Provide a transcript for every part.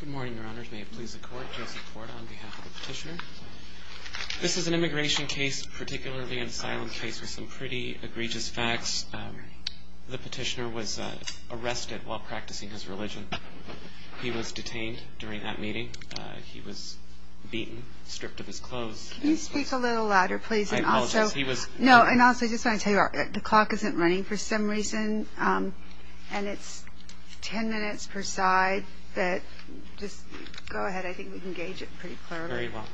Good morning, your honors. May it please the court, Joseph Porta on behalf of the petitioner. This is an immigration case, particularly an asylum case, with some pretty egregious facts. The petitioner was arrested while practicing his religion. He was detained during that meeting. He was beaten, stripped of his clothes. Can you speak a little louder, please? I apologize, he was... No, and also, I just want to tell you, the clock isn't running for some reason, and it's ten minutes per side, but just go ahead, I think we can gauge it pretty clearly. Very well.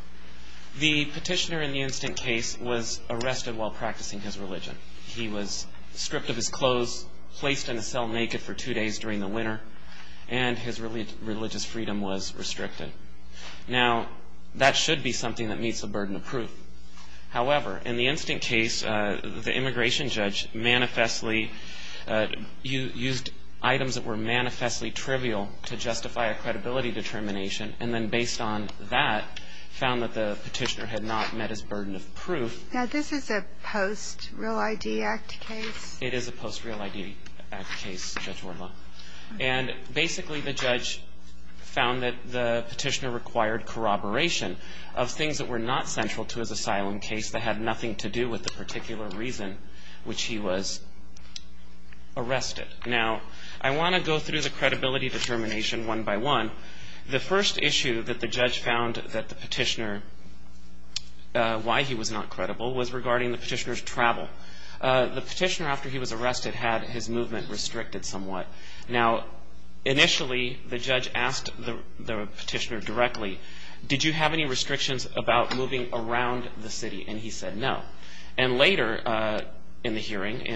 The petitioner in the instant case was arrested while practicing his religion. He was stripped of his clothes, placed in a cell naked for two days during the winter, and his religious freedom was restricted. Now, that should be something that meets the burden of proof. However, in the instant case, the immigration judge manifestly used items that were manifestly trivial to justify a credibility determination, and then based on that, found that the petitioner had not met his burden of proof. Now, this is a post-Real ID Act case? It is a post-Real ID Act case, Judge Wurla. And basically, the judge found that the petitioner required corroboration of things that were not central to his asylum case that had nothing to do with the particular reason which he was arrested. Now, I want to go through the credibility determination one by one. The first issue that the judge found that the petitioner... why he was not credible was regarding the petitioner's travel. The petitioner, after he was arrested, had his movement restricted somewhat. Now, initially, the judge asked the petitioner directly, did you have any restrictions about moving around the city? And he said no. And later in the hearing,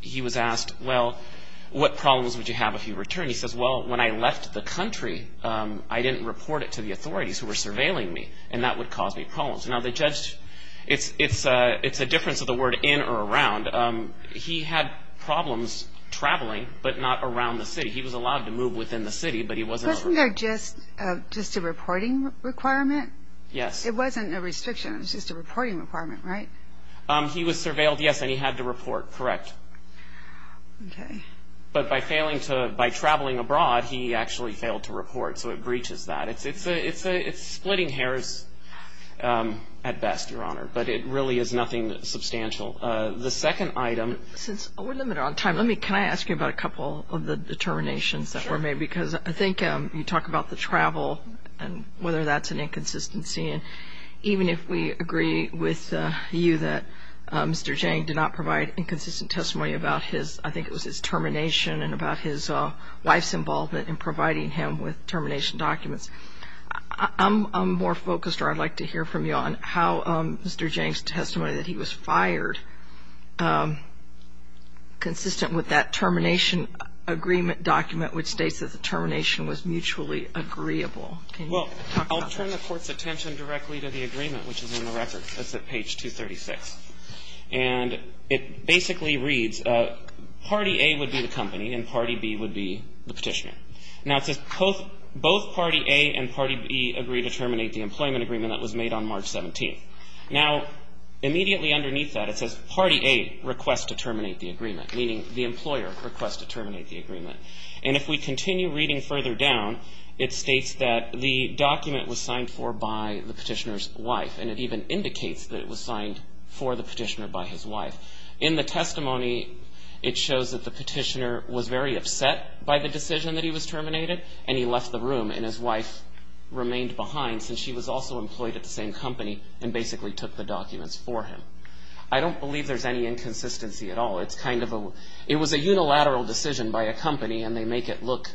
he was asked, well, what problems would you have if you returned? He says, well, when I left the country, I didn't report it to the authorities who were surveilling me, and that would cause me problems. Now, the judge, it's a difference of the word in or around. He had problems traveling, but not around the city. He was allowed to move within the city, but he wasn't... Wasn't there just a reporting requirement? Yes. It wasn't a restriction. It was just a reporting requirement, right? He was surveilled, yes, and he had to report, correct. Okay. But by traveling abroad, he actually failed to report, so it breaches that. It's splitting hairs at best, Your Honor, but it really is nothing substantial. The second item... Since we're limited on time, can I ask you about a couple of the determinations that were made? Because I think you talk about the travel and whether that's an inconsistency, and even if we agree with you that Mr. Jang did not provide inconsistent testimony about his, I think it was his, termination and about his wife's involvement in providing him with termination documents, I'm more focused, or I'd like to hear from you, on how Mr. Jang's testimony that he was fired, consistent with that termination agreement document, which states that the termination was mutually agreeable. Can you talk about that? Well, I'll turn the Court's attention directly to the agreement, which is in the records. That's at page 236. And it basically reads, Party A would be the company and Party B would be the petitioner. Now, it says both Party A and Party B agree to terminate the employment agreement that was made on March 17th. Now, immediately underneath that, it says Party A requests to terminate the agreement, meaning the employer requests to terminate the agreement. And if we continue reading further down, it states that the document was signed for by the petitioner's wife, and it even indicates that it was signed for the petitioner by his wife. In the testimony, it shows that the petitioner was very upset by the decision that he was terminated, and he left the room, and his wife remained behind since she was also employed at the same company and basically took the documents for him. I don't believe there's any inconsistency at all. It's kind of a – it was a unilateral decision by a company, and they make it look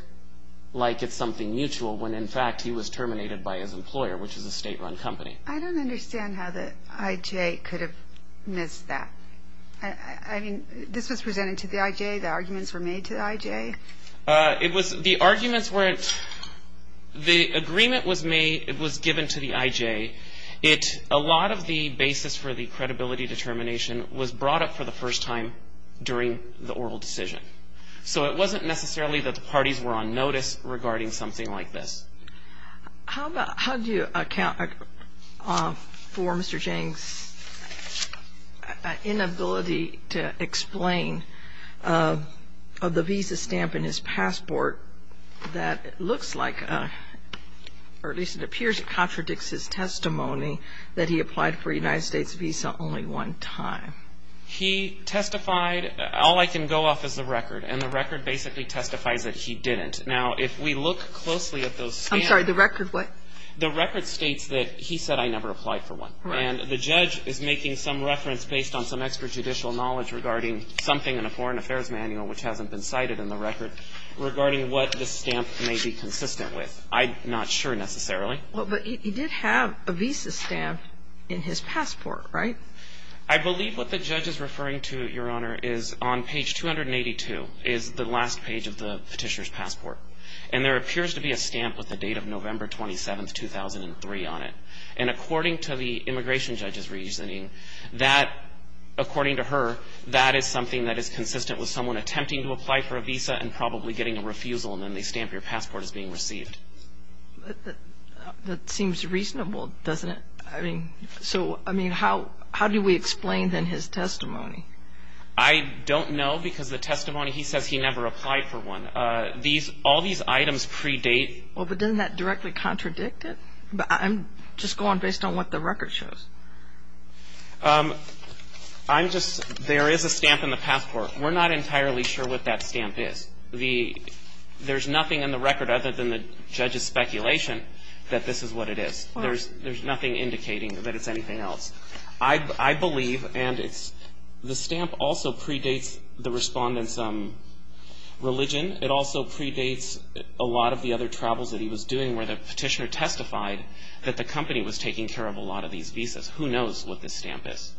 like it's something mutual when, in fact, he was terminated by his employer, which is a state-run company. I don't understand how the IJ could have missed that. I mean, this was presented to the IJ. The arguments were made to the IJ. It was – the arguments weren't – the agreement was made – it was given to the IJ. It – a lot of the basis for the credibility determination was brought up for the first time during the oral decision. So it wasn't necessarily that the parties were on notice regarding something like this. How about – how do you account for Mr. Jang's inability to explain the visa stamp in his passport that looks like – or at least it appears it contradicts his testimony that he applied for a United States visa only one time? He testified – all I can go off is the record, and the record basically testifies that he didn't. Now, if we look closely at those stamps – I'm sorry. The record what? The record states that he said, I never applied for one. Right. And the judge is making some reference based on some extrajudicial knowledge regarding something in a foreign affairs manual which hasn't been cited in the record regarding what the stamp may be consistent with. I'm not sure necessarily. Well, but he did have a visa stamp in his passport, right? I believe what the judge is referring to, Your Honor, is on page 282 is the last page of the petitioner's passport. And there appears to be a stamp with the date of November 27, 2003 on it. And according to the immigration judge's reasoning, that – according to her, that is something that is consistent with someone attempting to apply for a visa and probably getting a refusal, and then they stamp your passport as being received. That seems reasonable, doesn't it? I mean, so, I mean, how do we explain, then, his testimony? I don't know because the testimony, he says he never applied for one. All these items predate. Well, but doesn't that directly contradict it? I'm just going based on what the record shows. I'm just – there is a stamp in the passport. We're not entirely sure what that stamp is. There's nothing in the record other than the judge's speculation that this is what it is. There's nothing indicating that it's anything else. I believe, and it's – the stamp also predates the respondent's religion. It also predates a lot of the other travels that he was doing where the petitioner testified that the company was taking care of a lot of these visas. Who knows what this stamp is?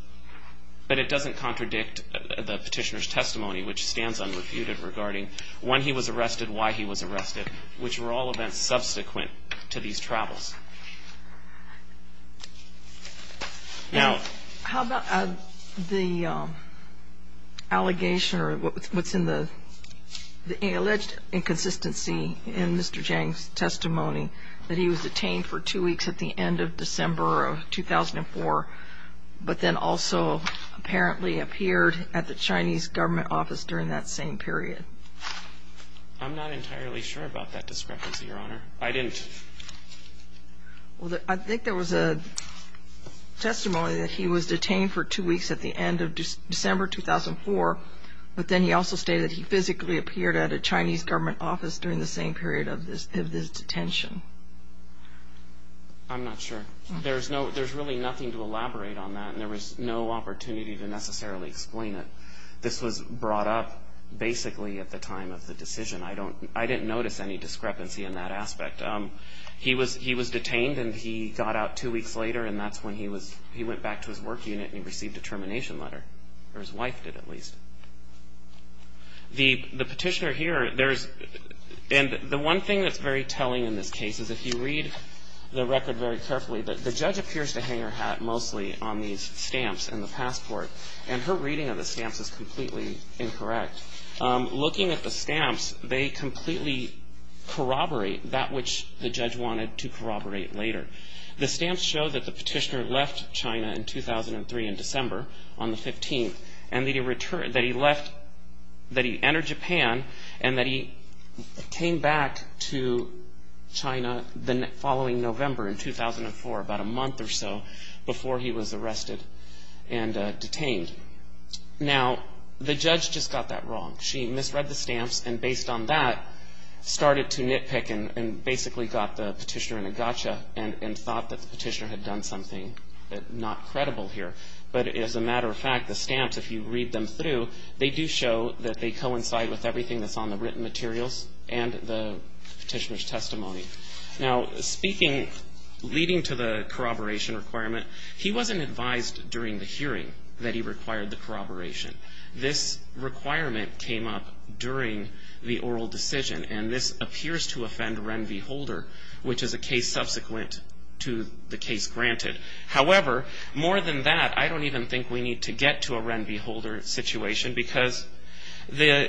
But it doesn't contradict the petitioner's testimony, which stands unrefuted, regarding when he was arrested, why he was arrested, which were all events subsequent to these travels. Now – How about the allegation or what's in the – the alleged inconsistency in Mr. Zhang's testimony that he was detained for two weeks at the end of December of 2004 but then also apparently appeared at the Chinese government office during that same period? I'm not entirely sure about that discrepancy, Your Honor. I didn't. Well, I think there was a testimony that he was detained for two weeks at the end of December 2004, but then he also stated he physically appeared at a Chinese government office during the same period of his detention. I'm not sure. There's really nothing to elaborate on that, and there was no opportunity to necessarily explain it. This was brought up basically at the time of the decision. I didn't notice any discrepancy in that aspect. He was detained, and he got out two weeks later, and that's when he went back to his work unit and he received a termination letter, or his wife did at least. The petitioner here, there's – and the one thing that's very telling in this case is if you read the record very carefully, the judge appears to hang her hat mostly on these stamps and the passport, and her reading of the stamps is completely incorrect. Looking at the stamps, they completely corroborate that which the judge wanted to corroborate later. The stamps show that the petitioner left China in 2003 in December on the 15th, and that he entered Japan and that he came back to China the following November in 2004, about a month or so before he was arrested and detained. Now, the judge just got that wrong. She misread the stamps, and based on that, started to nitpick and basically got the petitioner in a gotcha and thought that the petitioner had done something not credible here. But as a matter of fact, the stamps, if you read them through, they do show that they coincide with everything that's on the written materials and the petitioner's testimony. Now, speaking, leading to the corroboration requirement, he wasn't advised during the hearing that he required the corroboration. This requirement came up during the oral decision, and this appears to offend Ren V. Holder, which is a case subsequent to the case granted. However, more than that, I don't even think we need to get to a Ren V. Holder situation because the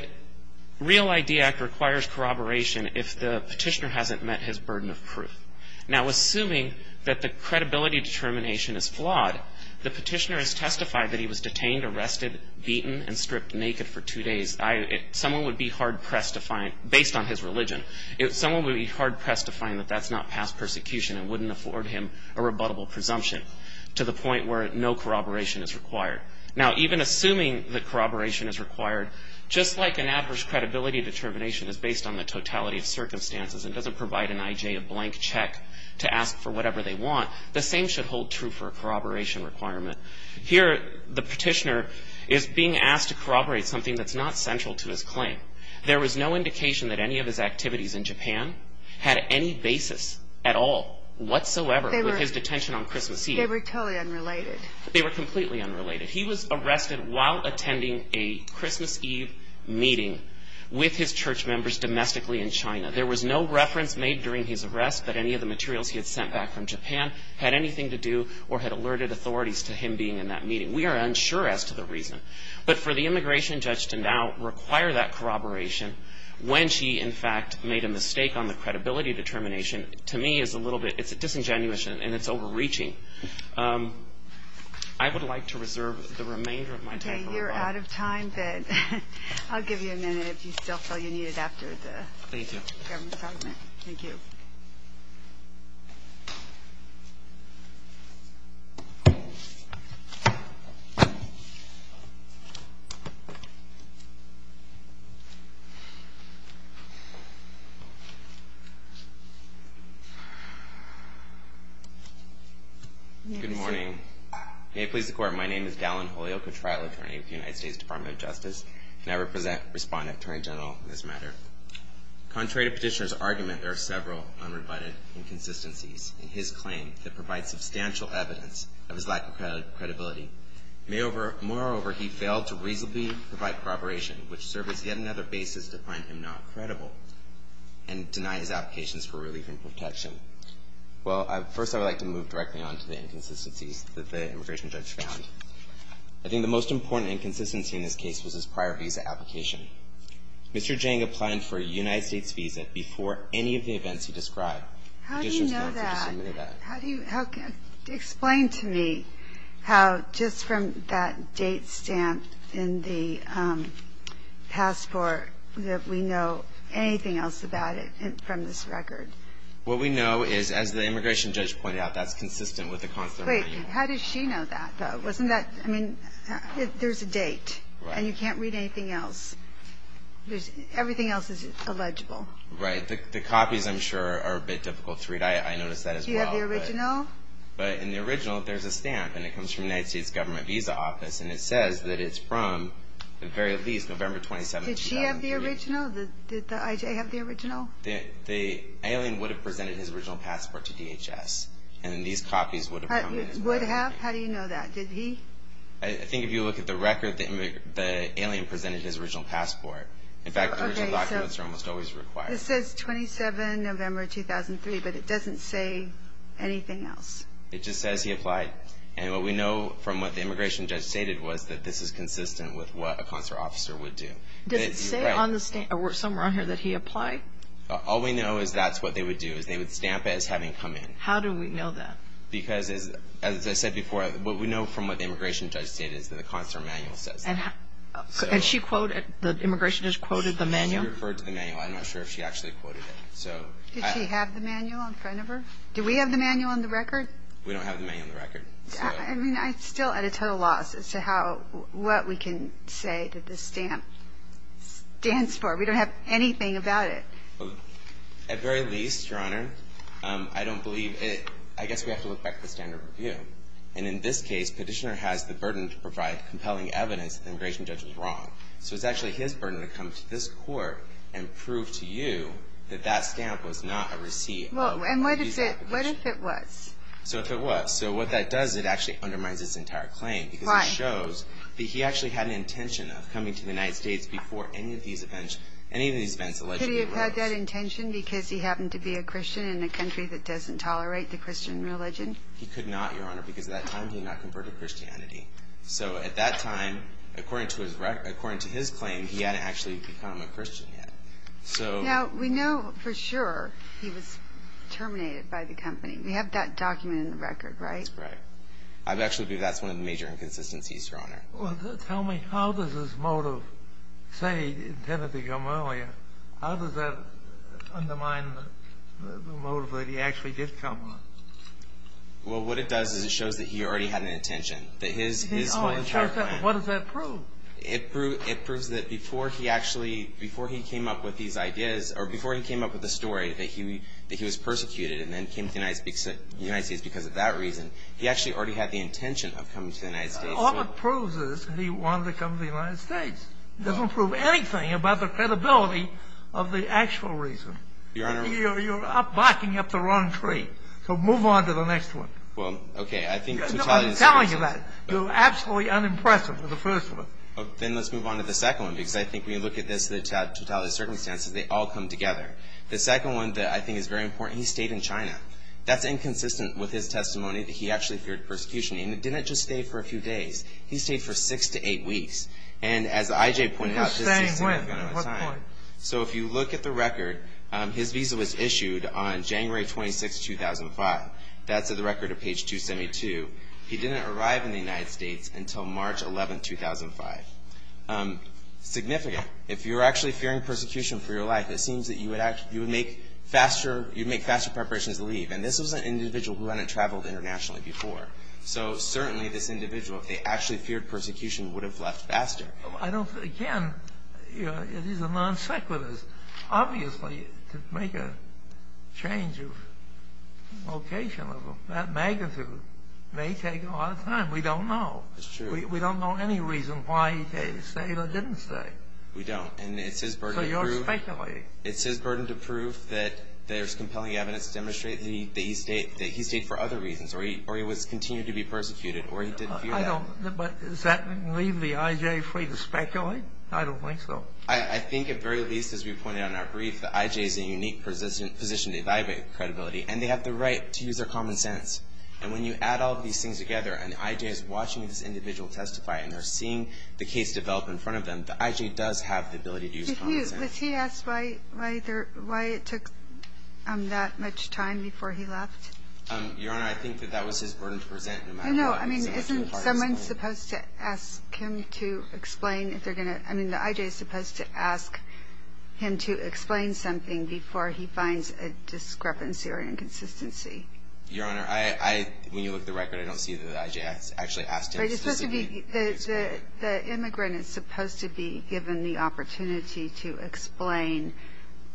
Real ID Act requires corroboration if the petitioner hasn't met his burden of proof. Now, assuming that the credibility determination is flawed, the petitioner has testified that he was detained, arrested, beaten, and stripped naked for two days. Someone would be hard-pressed to find, based on his religion, someone would be hard-pressed to find that that's not past persecution and wouldn't afford him a rebuttable presumption to the point where no corroboration is required. Now, even assuming that corroboration is required, just like an adverse credibility determination is based on the totality of circumstances and doesn't provide an IJ a blank check to ask for whatever they want, the same should hold true for a corroboration requirement. Here, the petitioner is being asked to corroborate something that's not central to his claim. There was no indication that any of his activities in Japan had any basis at all whatsoever with his detention on Christmas Eve. They were totally unrelated. They were completely unrelated. He was arrested while attending a Christmas Eve meeting with his church members domestically in China. There was no reference made during his arrest that any of the materials he had sent back from Japan had anything to do or had alerted authorities to him being in that meeting. We are unsure as to the reason. But for the immigration judge to now require that corroboration when she, in fact, made a mistake on the credibility determination, to me is a little bit disingenuous and it's overreaching. I would like to reserve the remainder of my time. Okay. You're out of time, Ben. I'll give you a minute if you still feel you need it after the government's argument. Thank you. Good morning. May it please the Court, my name is Dallin Holyoke, a trial attorney with the United States Department of Justice, and I respond to Attorney General in this matter. Contrary to Petitioner's argument, there are several unrebutted inconsistencies in his claim that provide substantial evidence of his lack of credibility. Moreover, he failed to reasonably provide corroboration, which served as yet another basis to find him not credible and deny his applications for relief in court. Well, first I would like to move directly on to the inconsistencies that the immigration judge found. I think the most important inconsistency in this case was his prior visa application. Mr. Jang applied for a United States visa before any of the events he described. How do you know that? Explain to me how just from that date stamp in the passport that we know anything else about it from this record. What we know is, as the immigration judge pointed out, that's consistent with the consular manual. Wait, how does she know that, though? Wasn't that, I mean, there's a date, and you can't read anything else. Everything else is illegible. Right. The copies, I'm sure, are a bit difficult to read. I noticed that as well. Do you have the original? But in the original, there's a stamp, and it comes from the United States Government Visa Office, and it says that it's from, at the very least, November 27, 2003. Did she have the original? Did the I.J. have the original? The alien would have presented his original passport to DHS, and then these copies would have come to his office. Would have? How do you know that? Did he? I think if you look at the record, the alien presented his original passport. In fact, the original documents are almost always required. It says 27 November 2003, but it doesn't say anything else. It just says he applied. And what we know from what the immigration judge stated was that this is consistent with what a consular officer would do. Does it say somewhere on here that he applied? All we know is that's what they would do, is they would stamp it as having come in. How do we know that? Because, as I said before, what we know from what the immigration judge stated is that the consular manual says that. And she quoted, the immigration judge quoted the manual? She referred to the manual. I'm not sure if she actually quoted it. Did she have the manual in front of her? Do we have the manual on the record? We don't have the manual on the record. I mean, I'm still at a total loss as to what we can say that this stamp stands for. We don't have anything about it. At very least, Your Honor, I don't believe it. I guess we have to look back at the standard of review. And in this case, Petitioner has the burden to provide compelling evidence that the immigration judge was wrong. So it's actually his burden to come to this court and prove to you that that stamp was not a receipt. Well, and what if it was? So if it was. So what that does is it actually undermines his entire claim. Why? Because it shows that he actually had an intention of coming to the United States before any of these events allegedly arose. Could he have had that intention because he happened to be a Christian in a country that doesn't tolerate the Christian religion? He could not, Your Honor, because at that time he had not converted to Christianity. So at that time, according to his claim, he hadn't actually become a Christian yet. Now, we know for sure he was terminated by the company. We have that documented in the record, right? That's right. I'd actually believe that's one of the major inconsistencies, Your Honor. Well, tell me, how does his motive say he intended to come earlier? How does that undermine the motive that he actually did come? Well, what it does is it shows that he already had an intention, that his whole entire plan. What does that prove? It proves that before he actually came up with these ideas, or before he came up with the story, that he was persecuted and then came to the United States because of that reason. He actually already had the intention of coming to the United States. All it proves is he wanted to come to the United States. It doesn't prove anything about the credibility of the actual reason. Your Honor. You're backing up the wrong tree. So move on to the next one. Well, okay. I think totality of circumstances. I'm telling you that. You're absolutely unimpressive with the first one. Then let's move on to the second one, because I think when you look at this, the totality of circumstances, they all come together. The second one that I think is very important, he stayed in China. That's inconsistent with his testimony that he actually feared persecution. He didn't just stay for a few days. He stayed for six to eight weeks. And as I.J. pointed out, this is significant. So if you look at the record, his visa was issued on January 26, 2005. That's at the record of page 272. He didn't arrive in the United States until March 11, 2005. Significant. If you're actually fearing persecution for your life, it seems that you would make faster preparations to leave. And this was an individual who hadn't traveled internationally before. So certainly this individual, if they actually feared persecution, would have left faster. Again, it is a non sequitur. Obviously, to make a change of location of that magnitude may take a lot of time. We don't know. It's true. We don't know any reason why he stayed or didn't stay. We don't. And it's his burden to prove. So you're speculating. It's his burden to prove that there's compelling evidence to demonstrate that he stayed for other reasons, or he was continuing to be persecuted, or he didn't fear that. I don't. But does that leave the I.J. free to speculate? I don't think so. I think at very least, as we pointed out in our brief, the I.J. is in a unique position to evaluate credibility. And they have the right to use their common sense. And when you add all of these things together, and the I.J. is watching this individual testify and they're seeing the case develop in front of them, the I.J. does have the ability to use common sense. Was he asked why it took that much time before he left? Your Honor, I think that that was his burden to present, no matter what. No, no. I mean, isn't someone supposed to ask him to explain if they're going to ‑‑ I mean, the I.J. is supposed to ask him to explain something before he finds a discrepancy or an inconsistency. Your Honor, when you look at the record, I don't see that the I.J. has actually asked him specifically to explain. The immigrant is supposed to be given the opportunity to explain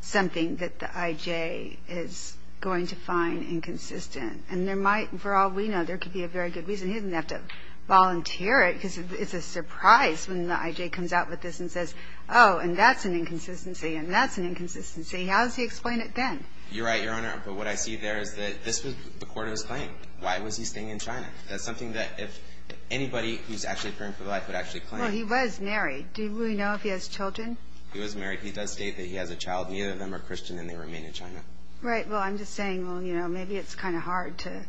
something that the I.J. is going to find inconsistent. And there might, for all we know, there could be a very good reason he doesn't have to volunteer it, because it's a surprise when the I.J. comes out with this and says, oh, and that's an inconsistency, and that's an inconsistency. How does he explain it then? You're right, Your Honor, but what I see there is that this was the court of his claim. Why was he staying in China? That's something that if anybody who's actually appearing for the life would actually claim. Well, he was married. Do we know if he has children? He was married. He does state that he has a child. Neither of them are Christian, and they remain in China. Right. Well, I'm just saying, well, you know, maybe it's kind of hard to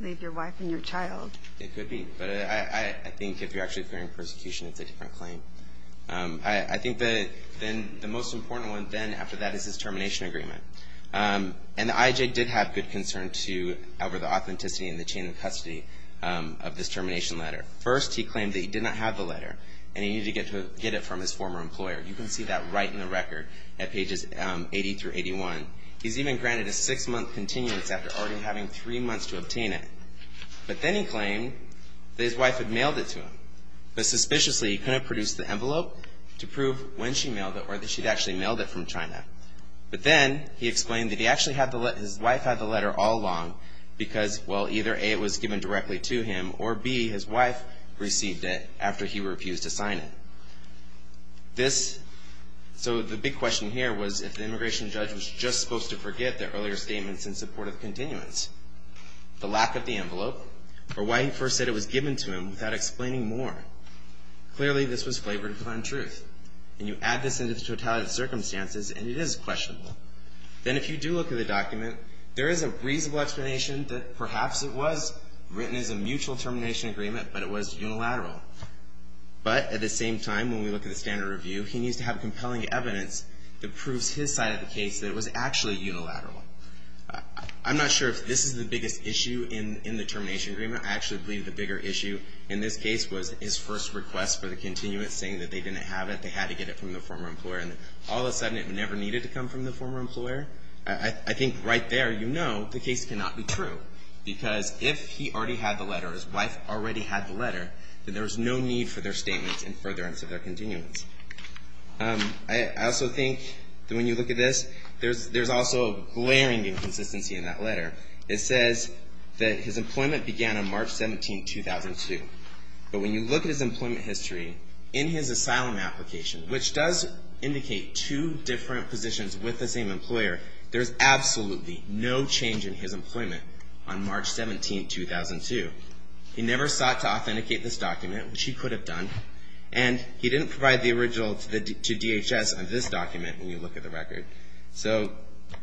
leave your wife and your child. It could be. But I think if you're actually appearing for persecution, it's a different claim. I think that then the most important one then after that is his termination agreement. And the IJ did have good concern over the authenticity and the chain of custody of this termination letter. First, he claimed that he did not have the letter, and he needed to get it from his former employer. You can see that right in the record at pages 80 through 81. He's even granted a six-month continuance after already having three months to obtain it. But then he claimed that his wife had mailed it to him. But suspiciously, he couldn't produce the envelope to prove when she mailed it or that she'd actually mailed it from China. But then he explained that he actually had the letter, his wife had the letter all along, because, well, either A, it was given directly to him, or B, his wife received it after he refused to sign it. This, so the big question here was if the immigration judge was just supposed to forget the earlier statements in support of continuance, the lack of the envelope, or why he first said it was given to him without explaining more. Clearly, this was flavored upon truth. And you add this into the totality of circumstances, and it is questionable. Then if you do look at the document, there is a reasonable explanation that perhaps it was written as a mutual termination agreement, but it was unilateral. But at the same time, when we look at the standard review, he needs to have compelling evidence that proves his side of the case that it was actually unilateral. I'm not sure if this is the biggest issue in the termination agreement. I actually believe the bigger issue in this case was his first request for the continuance, saying that they didn't have it, they had to get it from the former employer, and all of a sudden it never needed to come from the former employer. I think right there you know the case cannot be true, because if he already had the letter, his wife already had the letter, then there was no need for their statements in furtherance of their continuance. I also think that when you look at this, there's also a glaring inconsistency in that letter. It says that his employment began on March 17, 2002. But when you look at his employment history, in his asylum application, which does indicate two different positions with the same employer, there's absolutely no change in his employment on March 17, 2002. He never sought to authenticate this document, which he could have done, and he didn't provide the original to DHS on this document when you look at the record. So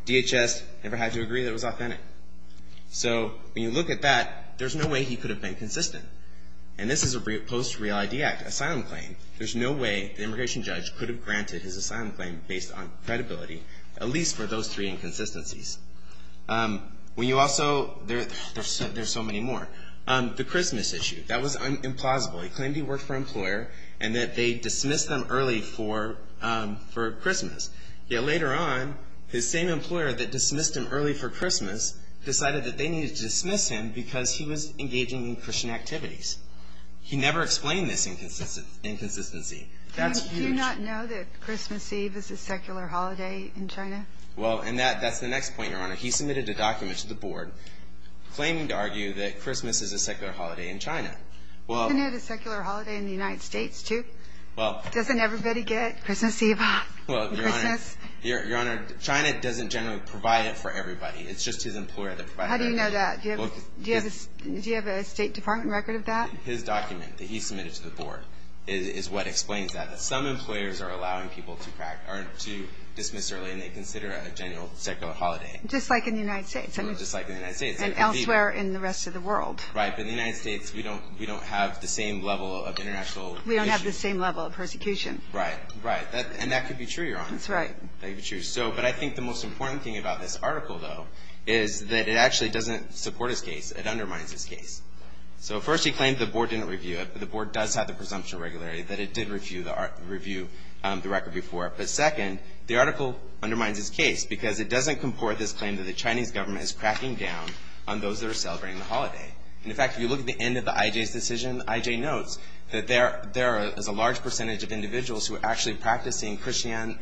DHS never had to agree that it was authentic. So when you look at that, there's no way he could have been consistent. And this is a post-Real ID Act asylum claim. There's no way the immigration judge could have granted his asylum claim based on credibility, at least for those three inconsistencies. When you also, there's so many more. The Christmas issue. That was implausible. He claimed he worked for an employer and that they dismissed him early for Christmas. Yet later on, his same employer that dismissed him early for Christmas decided that they needed to dismiss him because he was engaging in Christian activities. He never explained this inconsistency. That's huge. Do you not know that Christmas Eve is a secular holiday in China? Well, and that's the next point, Your Honor. He submitted a document to the board claiming to argue that Christmas is a secular holiday in China. Isn't it a secular holiday in the United States too? Doesn't everybody get Christmas Eve on Christmas? Your Honor, China doesn't generally provide it for everybody. It's just his employer that provides it. How do you know that? Do you have a State Department record of that? His document that he submitted to the board is what explains that, that some employers are allowing people to dismiss early and they consider it a general secular holiday. Just like in the United States. Just like in the United States. And elsewhere in the rest of the world. Right, but in the United States we don't have the same level of international issues. We don't have the same level of persecution. Right, right. And that could be true, Your Honor. That's right. That could be true. But I think the most important thing about this article, though, is that it actually doesn't support his case. It undermines his case. So first he claimed the board didn't review it, but the board does have the presumption of regularity that it did review the record before. But second, the article undermines his case because it doesn't comport this claim that the Chinese government is cracking down on those that are celebrating the holiday. And, in fact, if you look at the end of the IJ's decision, IJ notes that there is a large percentage of individuals who are actually practicing Christian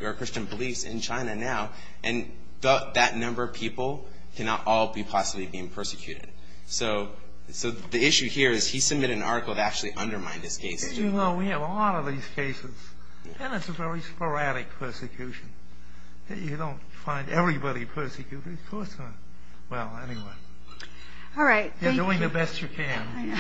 beliefs in China now, and that number of people cannot all be possibly being persecuted. So the issue here is he submitted an article that actually undermined his case. As you know, we have a lot of these cases, and it's a very sporadic persecution. You don't find everybody persecuted. Of course not. Well, anyway. All right. Thank you. You're doing the best you can. I know.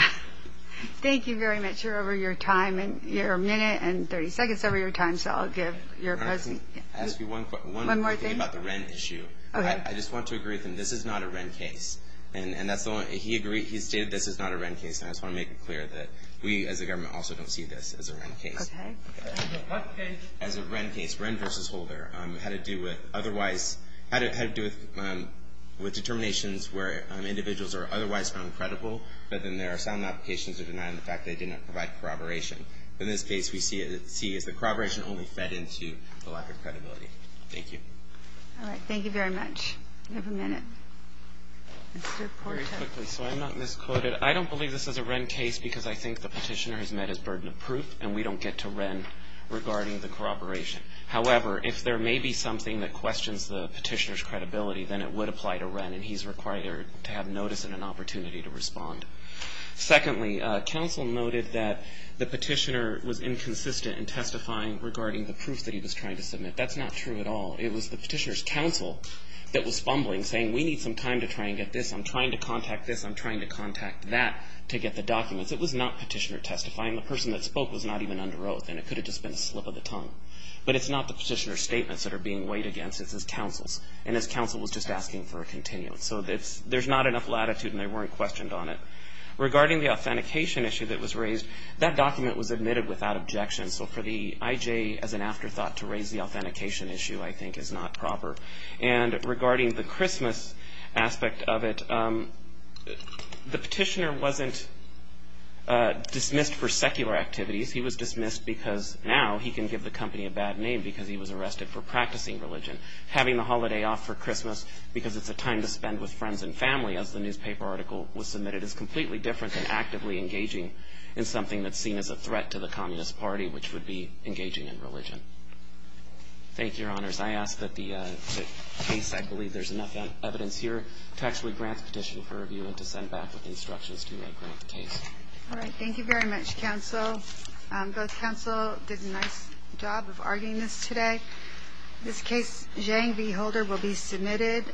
Thank you very much. You're over your time, your minute and 30 seconds over your time, so I'll give your present. Can I ask you one more thing? One more thing? About the rent issue. Okay. I just want to agree with him. This is not a rent case. He agreed. He stated this is not a rent case, and I just want to make it clear that we as a government also don't see this as a rent case. Okay. As a rent case, rent versus holder, had to do with otherwise, had to do with determinations where individuals are otherwise found credible, but then there are some applications that deny the fact they did not provide corroboration. In this case, we see it as the corroboration only fed into the lack of credibility. Thank you. All right. Thank you very much. You have a minute. Very quickly, so I'm not misquoted. I don't believe this is a rent case because I think the petitioner has met his burden of proof, and we don't get to rent regarding the corroboration. However, if there may be something that questions the petitioner's credibility, then it would apply to rent, and he's required to have notice and an opportunity to respond. Secondly, counsel noted that the petitioner was inconsistent in testifying regarding the proof that he was trying to submit. That's not true at all. It was the petitioner's counsel that was fumbling, saying we need some time to try and get this. I'm trying to contact this. I'm trying to contact that to get the documents. It was not petitioner testifying. The person that spoke was not even under oath, and it could have just been a slip of the tongue. But it's not the petitioner's statements that are being weighed against. It's his counsel's, and his counsel was just asking for a continuance. So there's not enough latitude, and they weren't questioned on it. Regarding the authentication issue that was raised, that document was admitted without objection. So for the IJ as an afterthought to raise the authentication issue, I think, is not proper. And regarding the Christmas aspect of it, the petitioner wasn't dismissed for secular activities. He was dismissed because now he can give the company a bad name because he was arrested for practicing religion. Having the holiday off for Christmas because it's a time to spend with friends and family, as the newspaper article was submitted, is completely different than actively engaging in something that's seen as a threat to the Communist Party, which would be engaging in religion. Thank you, Your Honors. I ask that the case, I believe there's enough evidence here, to actually grant the petition for review and to send back with instructions to grant the case. All right. Thank you very much, counsel. Both counsel did a nice job of arguing this today. In this case, Zhang V. Holder will be submitted.